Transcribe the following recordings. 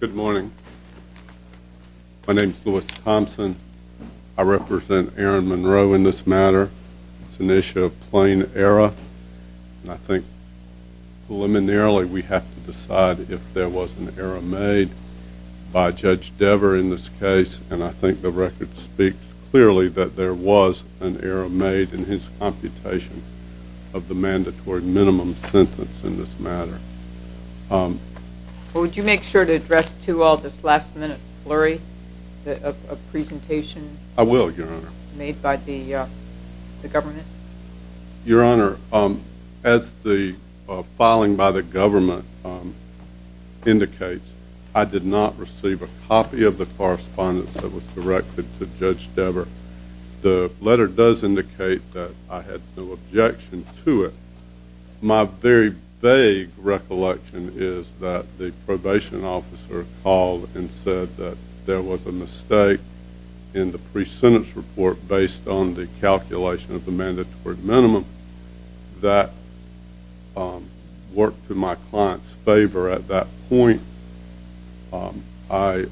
Good morning. My name is Louis Thompson. I represent Aaron Monroe in this matter. It's an issue of plain error, and I think preliminarily we have to decide if there was an error made by Judge Dever in this case, and I think the record speaks clearly that there was an error made in his computation of the mandatory minimum sentence in this matter. Would you make sure to address to all this last-minute flurry of presentation made by the government? Your Honor, as the filing by the government indicates, I did not receive a copy of the correspondence that was directed to Judge Dever. The letter does indicate that I had no objection to it. My very vague recollection is that the probation officer called and said that there was a mistake in the pre-sentence report based on the calculation of the mandatory minimum. That worked to my client's favor at that point. I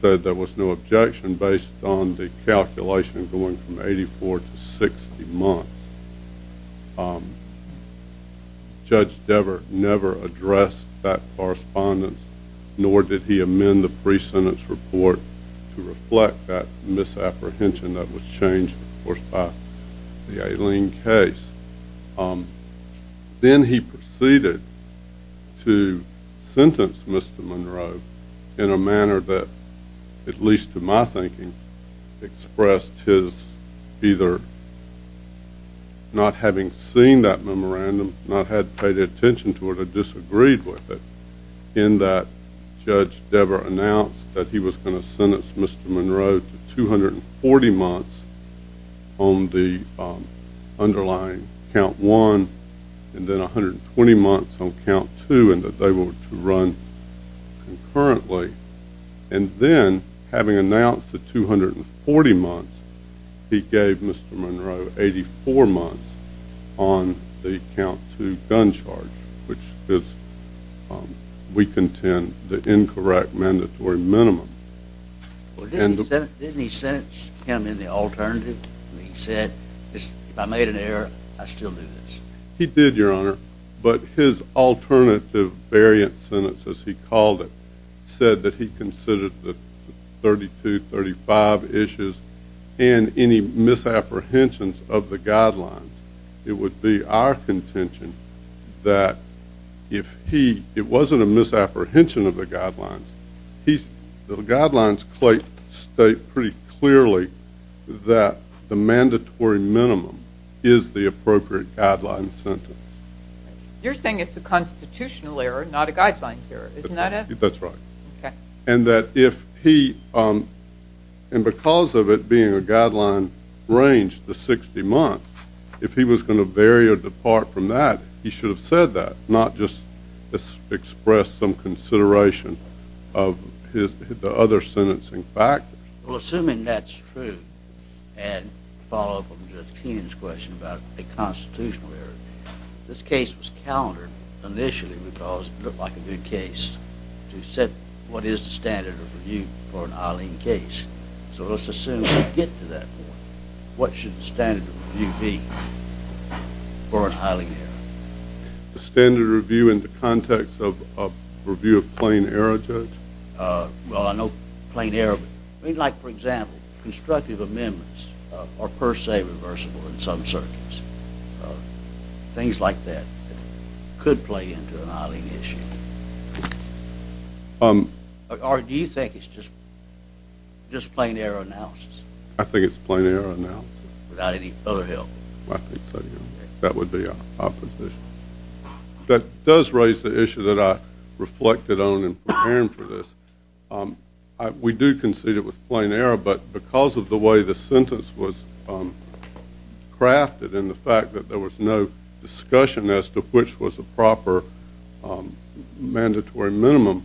said there was no objection based on the calculation going from 84 to 60 months. Judge Dever never addressed that correspondence, nor did he amend the pre-sentence report to reflect that misapprehension that was changed, of course, by the Aileen case. Then he proceeded to sentence Mr. Monroe in a manner that, at least to my thinking, expressed his either not having seen that memorandum, not having paid attention to it or disagreed with it, in that Judge Dever announced that he was going to sentence Mr. Monroe to 240 months on the underlying Count 1 and then 120 months on Count 2 and that they were to run concurrently. And then, having announced the 240 months, he gave Mr. Monroe 84 months on the Count 2 gun charge, which is, we contend, the incorrect mandatory minimum. Didn't he sentence him in the alternative? He said, if I made an error, I'd still do this. He did, Your Honor, but his alternative variant sentence, as he called it, said that he considered the 32, 35 issues and any misapprehensions of the guidelines. It would be our contention that if he, it wasn't a misapprehension of the guidelines, the guidelines state pretty clearly that the mandatory minimum is the appropriate guideline sentence. You're saying it's a constitutional error, not a guidelines error, isn't that it? That's right. And that if he, and because of it being a guideline range to 60 months, if he was going to vary or depart from that, he should have said that, not just express some consideration of the other sentencing factors. Well, assuming that's true, and to follow up on Judge Keenan's question about a constitutional error, this case was countered initially because it looked like a good case to set what is the standard of review for an Eileen case. So let's assume we get to that point. What should the standard of review be for an Eileen error? The standard of review in the context of a review of plain error, Judge? Well, I know plain error, but like, for example, constructive amendments are per se reversible in some circuits. Things like that could play into an Eileen issue. Or do you think it's just plain error analysis? I think it's plain error analysis. Without any other help? I think so, yeah. That would be opposition. That does raise the issue that I reflected on in preparing for this. We do concede it was plain error, but because of the way the sentence was crafted and the fact that there was no discussion as to which was the proper mandatory minimum,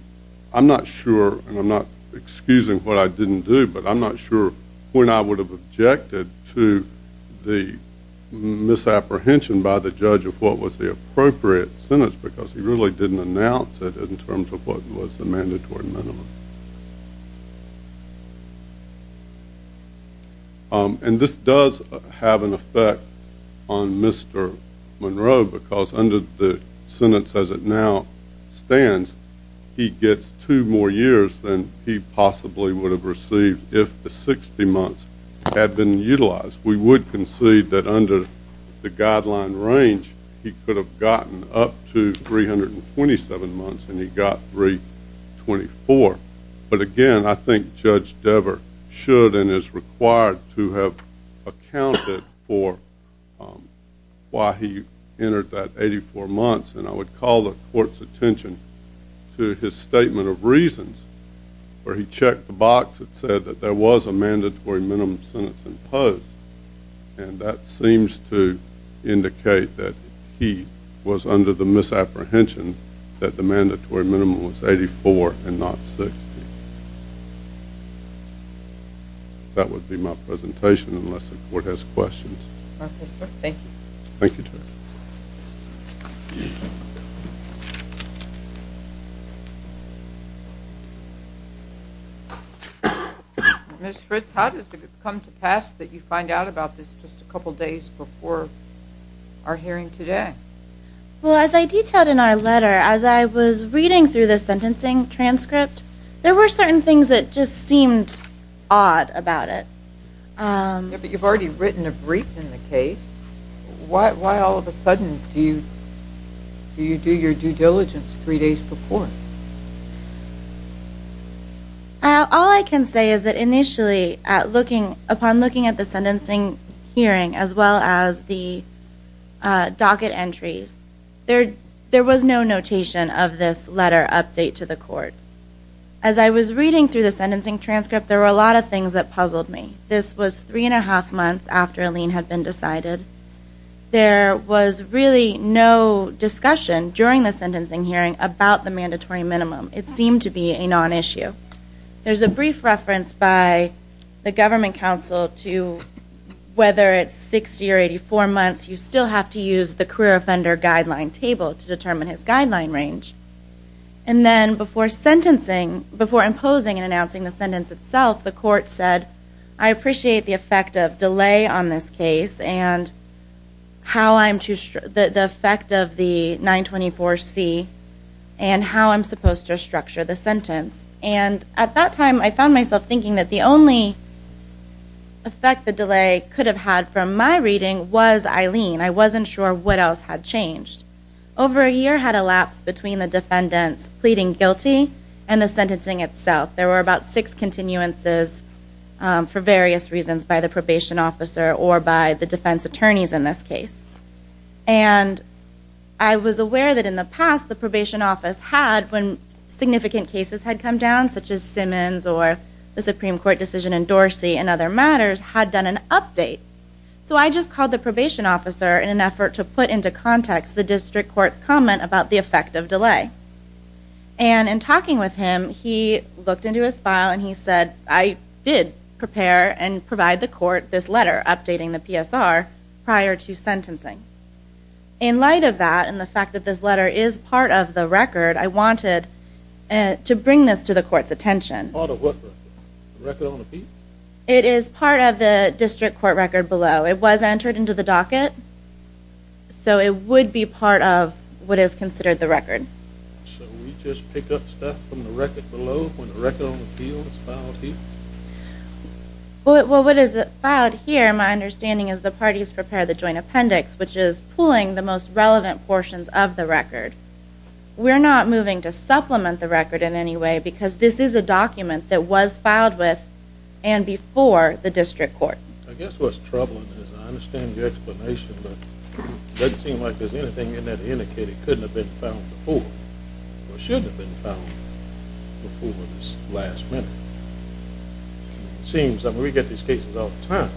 I'm not sure, and I'm not excusing what I didn't do, but I'm not sure when I would have objected to the misapprehension by the judge of what was the appropriate sentence because he really didn't announce it in terms of what was the mandatory minimum. And this does have an effect on Mr. Monroe because under the sentence as it now stands, he gets two more years than he possibly would have received if the 60 months had been utilized. We would concede that under the guideline range, he could have gotten up to 327 months, and he got 324. But again, I think Judge Dever should and is required to have accounted for why he entered that 84 months, and I would call the court's attention to his statement of reasons where he checked the box that said that there was a mandatory minimum sentence imposed, and that seems to indicate that he was under the misapprehension that the mandatory minimum was 84 and not 60. That would be my presentation unless the court has questions. Okay, sir. Thank you. Thank you, Judge. Thank you. Ms. Fritz, how does it come to pass that you find out about this just a couple days before our hearing today? Well, as I detailed in our letter, as I was reading through the sentencing transcript, there were certain things that just seemed odd about it. Yeah, but you've already written a brief in the case. Why all of a sudden do you do your due diligence three days before? All I can say is that initially upon looking at the sentencing hearing as well as the docket entries, there was no notation of this letter update to the court. As I was reading through the sentencing transcript, there were a lot of things that puzzled me. This was three and a half months after a lien had been decided. There was really no discussion during the sentencing hearing about the mandatory minimum. It seemed to be a non-issue. There's a brief reference by the government counsel to whether it's 60 or 84 months, you still have to use the career offender guideline table to determine his guideline range. And then before imposing and announcing the sentence itself, the court said, I appreciate the effect of delay on this case and the effect of the 924C and how I'm supposed to structure the sentence. And at that time I found myself thinking that the only effect the delay could have had from my reading was I lien. I wasn't sure what else had changed. Over a year had elapsed between the defendants pleading guilty and the sentencing itself. There were about six continuances for various reasons by the probation officer or by the defense attorneys in this case. And I was aware that in the past the probation office had, when significant cases had come down, such as Simmons or the Supreme Court decision in Dorsey and other matters, had done an update. So I just called the probation officer in an effort to put into context the district court's comment about the effect of delay. And in talking with him, he looked into his file and he said, I did prepare and provide the court this letter updating the PSR prior to sentencing. In light of that and the fact that this letter is part of the record, I wanted to bring this to the court's attention. Part of what record? The record on the piece? It is part of the district court record below. It was entered into the docket, so it would be part of what is considered the record. So we just pick up stuff from the record below when the record on the deal is filed here? Well, what is filed here, my understanding is the parties prepared the joint appendix, which is pooling the most relevant portions of the record. We're not moving to supplement the record in any way because this is a document that was filed with and before the district court. I guess what's troubling is, I understand your explanation, but it doesn't seem like there's anything in there to indicate it couldn't have been found before, or shouldn't have been found before this last minute. It seems, I mean, we get these cases all the time.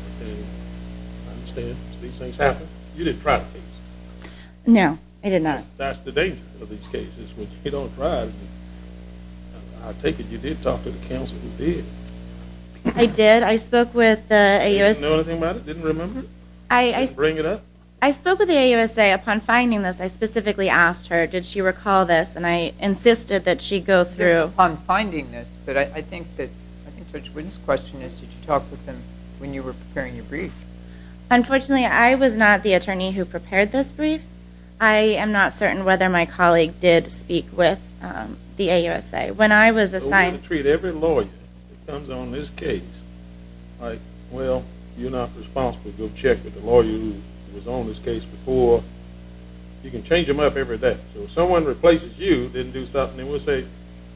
I understand these things happen. You didn't try the case? No, I did not. That's the danger of these cases, when you don't try. I take it you did talk to the counsel who did? I did. I spoke with the AUSA. Didn't know anything about it? Didn't remember? Didn't bring it up? I spoke with the AUSA upon finding this. I specifically asked her, did she recall this? And I insisted that she go through. Upon finding this, but I think Judge Whitten's question is, did you talk with them when you were preparing your brief? Unfortunately, I was not the attorney who prepared this brief. I am not certain whether my colleague did speak with the AUSA. When I was assigned to treat every lawyer, it comes on this case, like, well, you're not responsible. Go check with the lawyer who was on this case before. You can change them up every day. So if someone replaces you, didn't do something, then we'll say,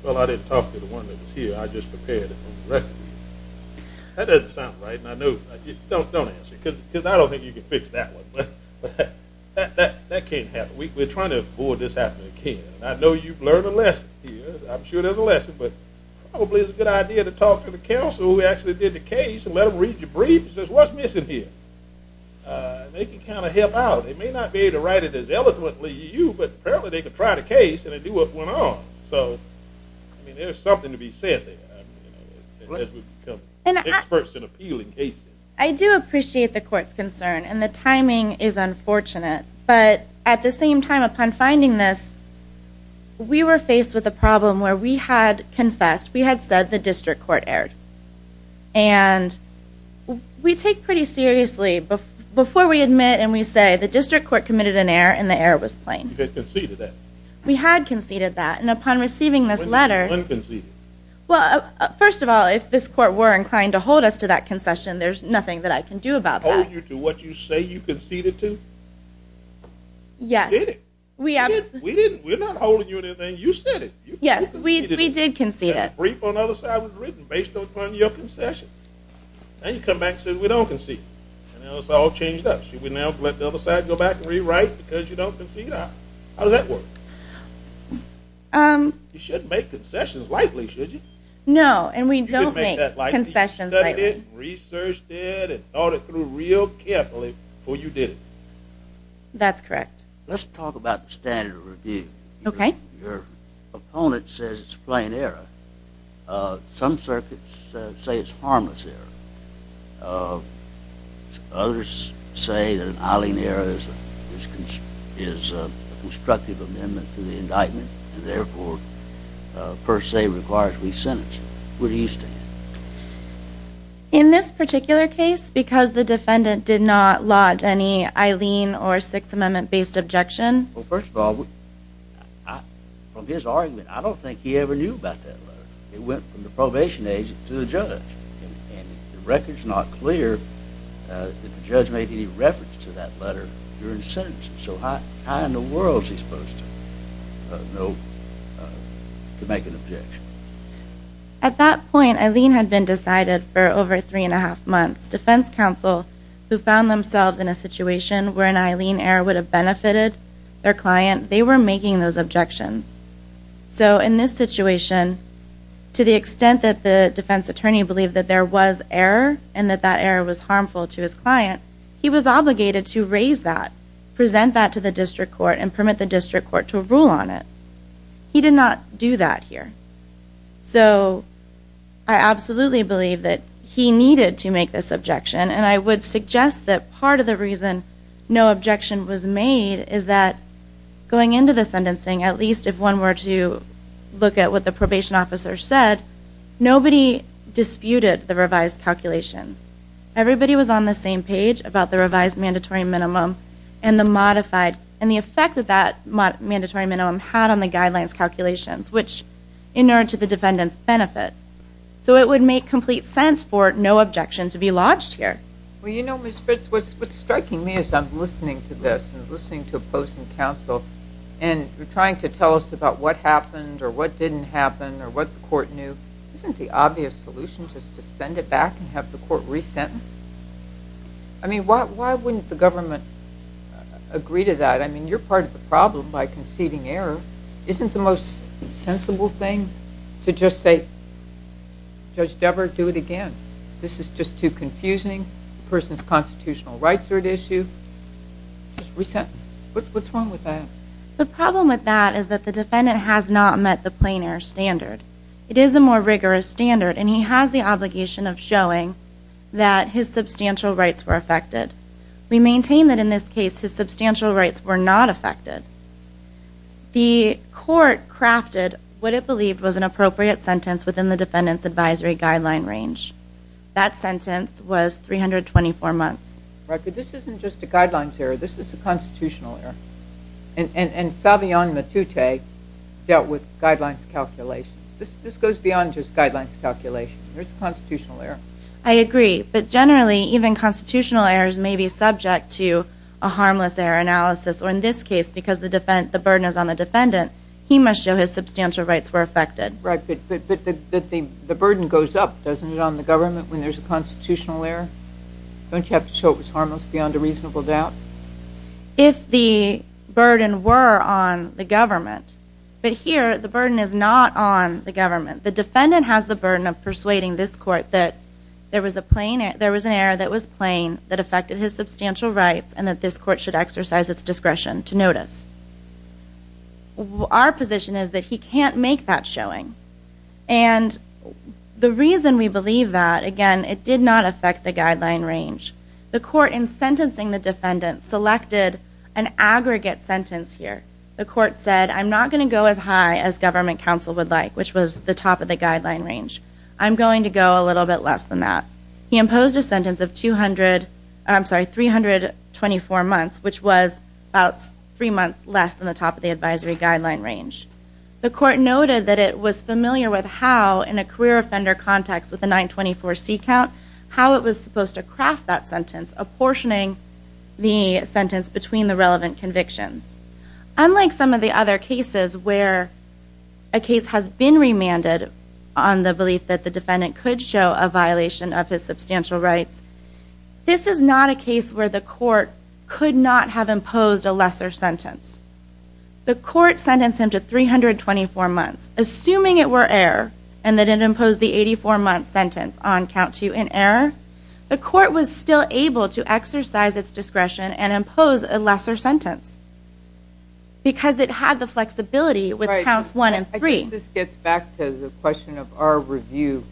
well, I didn't talk to the one that was here. I just prepared it from the record. That doesn't sound right, and I know. Don't answer, because I don't think you can fix that one. That can't happen. We're trying to avoid this happening again. And I know you've learned a lesson here. I'm sure there's a lesson. But probably it's a good idea to talk to the counsel who actually did the case and let them read your brief and say, what's missing here? They can kind of help out. They may not be able to write it as eloquently as you, but apparently they could try the case and then do what went on. So, I mean, there's something to be said there. Experts in appealing cases. I do appreciate the court's concern, and the timing is unfortunate. But at the same time, upon finding this, we were faced with a problem where we had confessed, we had said the district court erred. And we take pretty seriously, before we admit and we say, the district court committed an error and the error was plain. You had conceded that. We had conceded that. And upon receiving this letter. When did you concede it? Well, first of all, if this court were inclined to hold us to that concession, there's nothing that I can do about that. Did we hold you to what you say you conceded to? Yes. We did. We're not holding you to anything. You said it. Yes, we did concede it. That brief on the other side was written based upon your concession. Now you come back and say we don't concede. Now it's all changed up. Should we now let the other side go back and rewrite because you don't concede? How does that work? No, and we don't make concessions lightly. You studied it, researched it, and thought it through real carefully before you did it. That's correct. Let's talk about the standard of review. Okay. Your opponent says it's a plain error. Some circuits say it's a harmless error. Others say that an Eileen error is a constructive amendment to the indictment and therefore, per se, requires re-sentencing. Where do you stand? In this particular case, because the defendant did not lodge any Eileen or Sixth Amendment-based objection. Well, first of all, from his argument, I don't think he ever knew about that letter. It went from the probation agent to the judge. And the record's not clear that the judge made any reference to that letter during sentencing. So how in the world is he supposed to know to make an objection? At that point, Eileen had been decided for over three and a half months. Defense counsel, who found themselves in a situation where an Eileen error would have benefited their client, they were making those objections. So in this situation, to the extent that the defense attorney believed that there was error and that that error was harmful to his client, he was obligated to raise that, present that to the district court, and permit the district court to rule on it. He did not do that here. So I absolutely believe that he needed to make this objection. And I would suggest that part of the reason no objection was made is that going into the sentencing, at least if one were to look at what the probation officer said, nobody disputed the revised calculations. Everybody was on the same page about the revised mandatory minimum and the modified. And the effect that that mandatory minimum had on the guidelines calculations, which inured to the defendant's benefit. So it would make complete sense for no objection to be lodged here. Well, you know, Ms. Fritz, what's striking me is I'm listening to this and listening to opposing counsel and trying to tell us about what happened or what didn't happen or what the court knew. Isn't the obvious solution just to send it back and have the court re-sentence? I mean, why wouldn't the government agree to that? I mean, you're part of the problem by conceding error. Isn't the most sensible thing to just say, Judge Debert, do it again? This is just too confusing. The person's constitutional rights are at issue. Just re-sentence. What's wrong with that? The problem with that is that the defendant has not met the plein air standard. It is a more rigorous standard, and he has the obligation of showing that his substantial rights were affected. We maintain that in this case his substantial rights were not affected. The court crafted what it believed was an appropriate sentence within the defendant's advisory guideline range. That sentence was 324 months. But this isn't just a guidelines error. This is a constitutional error. And Savion Matute dealt with guidelines calculations. This goes beyond just guidelines calculations. There's a constitutional error. I agree. But generally, even constitutional errors may be subject to a harmless error analysis. Or in this case, because the burden is on the defendant, he must show his substantial rights were affected. Right. But the burden goes up, doesn't it, on the government when there's a constitutional error? Don't you have to show it was harmless beyond a reasonable doubt? If the burden were on the government. But here the burden is not on the government. The defendant has the burden of persuading this court that there was an error that was plain, that affected his substantial rights, and that this court should exercise its discretion to notice. Our position is that he can't make that showing. And the reason we believe that, again, it did not affect the guideline range. The court, in sentencing the defendant, selected an aggregate sentence here. The court said, I'm not going to go as high as government counsel would like, which was the top of the guideline range. I'm going to go a little bit less than that. He imposed a sentence of 200, I'm sorry, 324 months, which was about three months less than the top of the advisory guideline range. The court noted that it was familiar with how, in a career offender context with a 924C count, how it was supposed to craft that sentence, by apportioning the sentence between the relevant convictions. Unlike some of the other cases where a case has been remanded on the belief that the defendant could show a violation of his substantial rights, this is not a case where the court could not have imposed a lesser sentence. The court sentenced him to 324 months. Assuming it were error, and that it imposed the 84-month sentence on count 2 in error, the court was still able to exercise its discretion and impose a lesser sentence, because it had the flexibility with counts 1 and 3. I think this gets back to the question of our review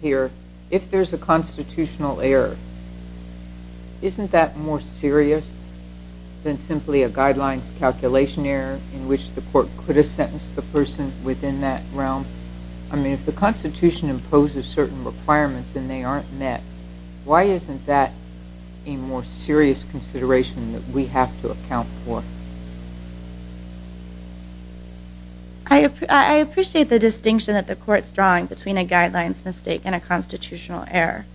here. If there's a constitutional error, isn't that more serious than simply a guidelines calculation error in which the court could have sentenced the person within that realm? If the Constitution imposes certain requirements and they aren't met, why isn't that a more serious consideration that we have to account for? I appreciate the distinction that the court's drawing between a guidelines mistake and a constitutional error.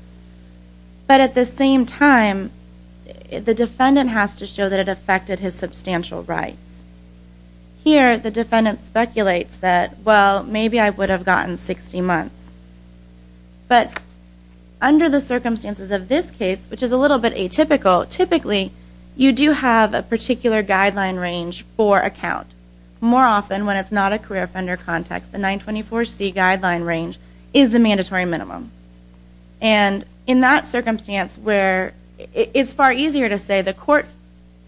But at the same time, the defendant has to show that it affected his substantial rights. Here, the defendant speculates that, well, maybe I would have gotten 60 months. But under the circumstances of this case, which is a little bit atypical, typically, you do have a particular guideline range for a count. More often, when it's not a career offender context, the 924C guideline range is the mandatory minimum. And in that circumstance where it's far easier to say the court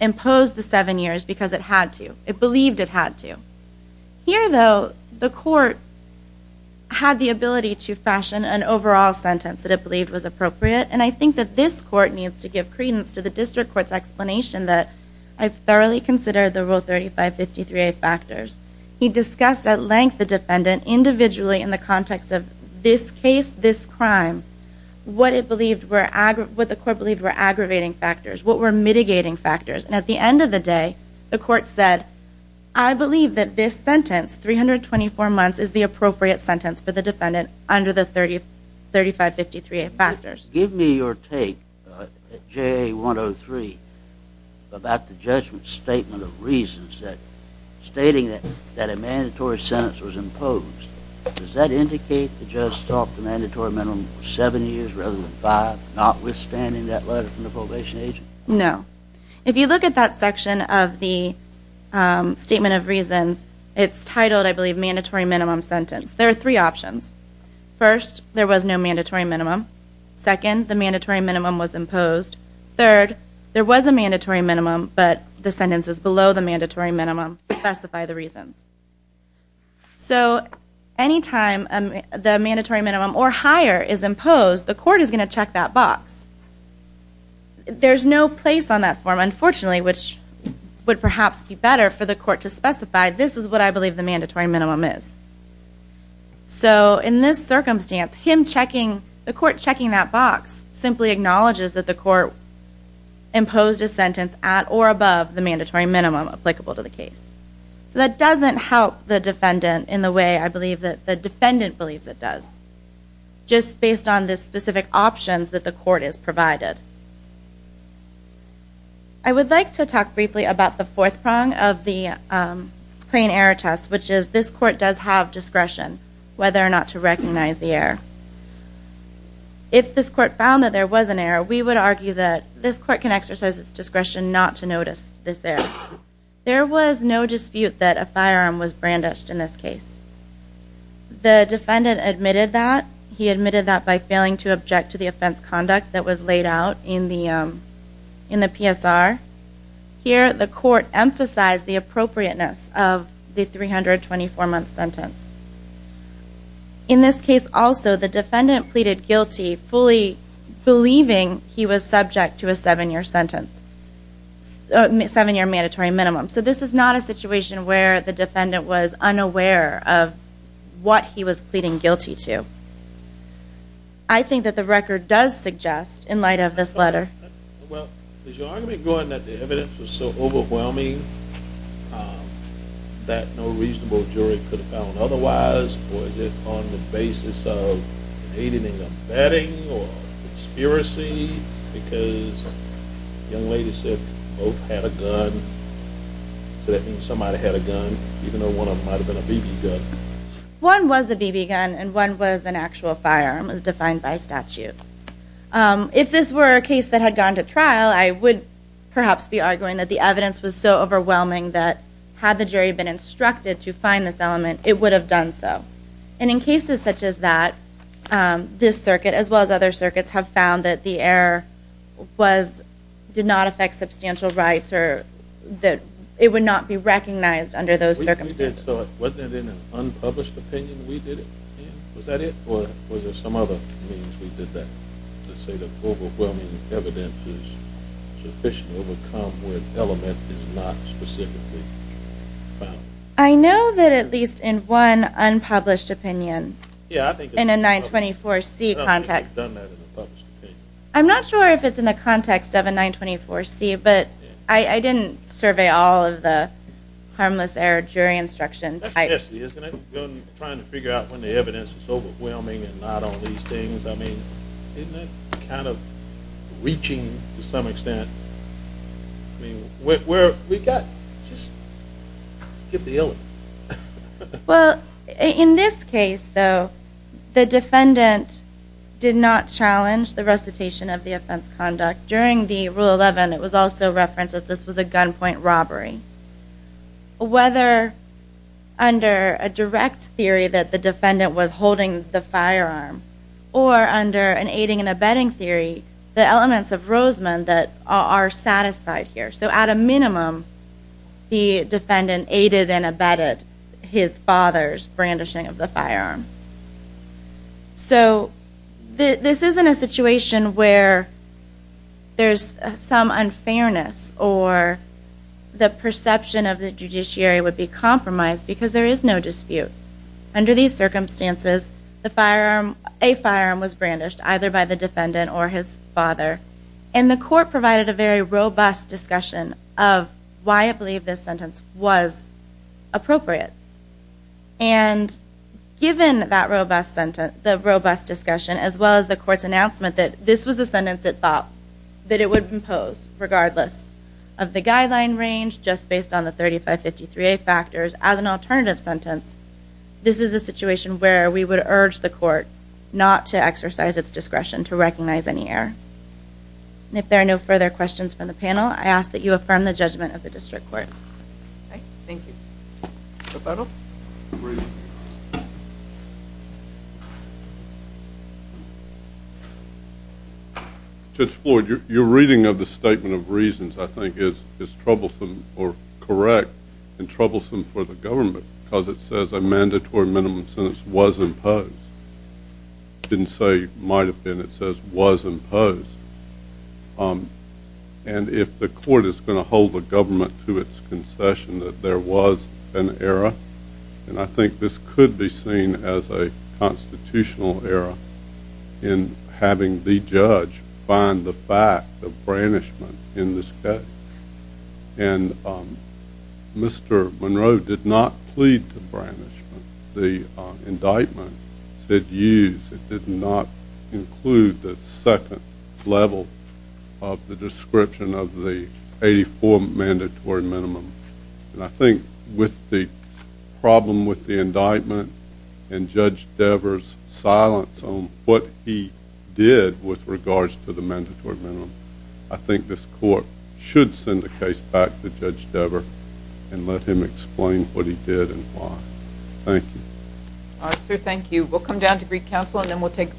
imposed the 7 years because it had to, it believed it had to. Here, though, the court had the ability to fashion an overall sentence that it believed was appropriate. And I think that this court needs to give credence to the district court's explanation that I've thoroughly considered the Rule 3553A factors. He discussed at length the defendant individually in the context of this case, this crime, what the court believed were aggravating factors, what were mitigating factors. And at the end of the day, the court said, I believe that this sentence, 324 months, is the appropriate sentence for the defendant under the 3553A factors. Give me your take at JA 103 about the judgment statement of reasons stating that a mandatory sentence was imposed. Does that indicate the judge thought the mandatory minimum was 7 years rather than 5, notwithstanding that letter from the probation agent? No. If you look at that section of the statement of reasons, it's titled, I believe, mandatory minimum sentence. There are three options. First, there was no mandatory minimum. Second, the mandatory minimum was imposed. Third, there was a mandatory minimum, but the sentence is below the mandatory minimum. Specify the reasons. So anytime the mandatory minimum or higher is imposed, the court is going to check that box. There's no place on that form, unfortunately, which would perhaps be better for the court to specify, this is what I believe the mandatory minimum is. So in this circumstance, him checking, the court checking that box, simply acknowledges that the court imposed a sentence at or above the mandatory minimum applicable to the case. So that doesn't help the defendant in the way I believe that the defendant believes it does, just based on the specific options that the court has provided. I would like to talk briefly about the fourth prong of the plain error test, which is this court does have discretion whether or not to recognize the error. If this court found that there was an error, we would argue that this court can exercise its discretion not to notice this error. There was no dispute that a firearm was brandished in this case. The defendant admitted that. He admitted that by failing to object to the offense conduct that was laid out in the PSR. Here, the court emphasized the appropriateness of the 324-month sentence. In this case also, the defendant pleaded guilty, fully believing he was subject to a seven-year sentence, seven-year mandatory minimum. So this is not a situation where the defendant was unaware of what he was pleading guilty to. I think that the record does suggest, in light of this letter. Well, is your argument going that the evidence was so overwhelming that no reasonable jury could have found otherwise, or is it on the basis of aiding and abetting or conspiracy because the young lady said both had a gun, so that means somebody had a gun even though one of them might have been a BB gun? One was a BB gun and one was an actual firearm as defined by statute. If this were a case that had gone to trial, I would perhaps be arguing that the evidence was so overwhelming that had the jury been instructed to find this element, it would have done so. And in cases such as that, this circuit as well as other circuits have found that the error did not affect substantial rights or that it would not be recognized under those circumstances. Wasn't it in an unpublished opinion we did it? Was that it or was there some other means we did that to say that overwhelming evidence is sufficiently overcome where an element is not specifically found? I know that at least in one unpublished opinion in a 924C context. I'm not sure if it's in the context of a 924C, but I didn't survey all of the harmless error jury instruction. That's messy, isn't it? Trying to figure out when the evidence is overwhelming and not all these things. I mean, isn't that kind of reaching to some extent? I mean, where have we got? Just give the element. Well, in this case, though, the defendant did not challenge the recitation of the offense conduct. During the Rule 11, it was also referenced that this was a gunpoint robbery. Whether under a direct theory that the defendant was holding the firearm or under an aiding and abetting theory, the elements of Roseman that are satisfied here. So at a minimum, the defendant aided and abetted his father's brandishing of the firearm. So this isn't a situation where there's some unfairness or the perception of the judiciary would be compromised because there is no dispute. Under these circumstances, a firearm was brandished either by the defendant or his father, and the court provided a very robust discussion of why it believed this sentence was appropriate. And given that robust sentence, the robust discussion, as well as the court's announcement that this was the sentence it thought that it would impose regardless of the guideline range just based on the 3553A factors as an alternative sentence, this is a situation where we would urge the court not to exercise its discretion to recognize any error. And if there are no further questions from the panel, I ask that you affirm the judgment of the district court. Thank you. Judge Floyd, your reading of the Statement of Reasons, I think, is troublesome or correct and troublesome for the government because it says a mandatory minimum sentence was imposed. It didn't say might have been. It says was imposed. And if the court is going to hold the government to its concession that there was an error, and I think this could be seen as a constitutional error in having the judge find the fact of brandishment in this case. And Mr. Monroe did not plead to brandishment. The indictment said used. It did not include the second level of the description of the 84 mandatory minimum. And I think with the problem with the indictment and Judge Devers' silence on what he did with regards to the mandatory minimum, I think this court should send the case back to Judge Devers and let him explain what he did and why. Thank you. All right, sir. Thank you. We'll come down to Greek Council and then we'll take a brief break.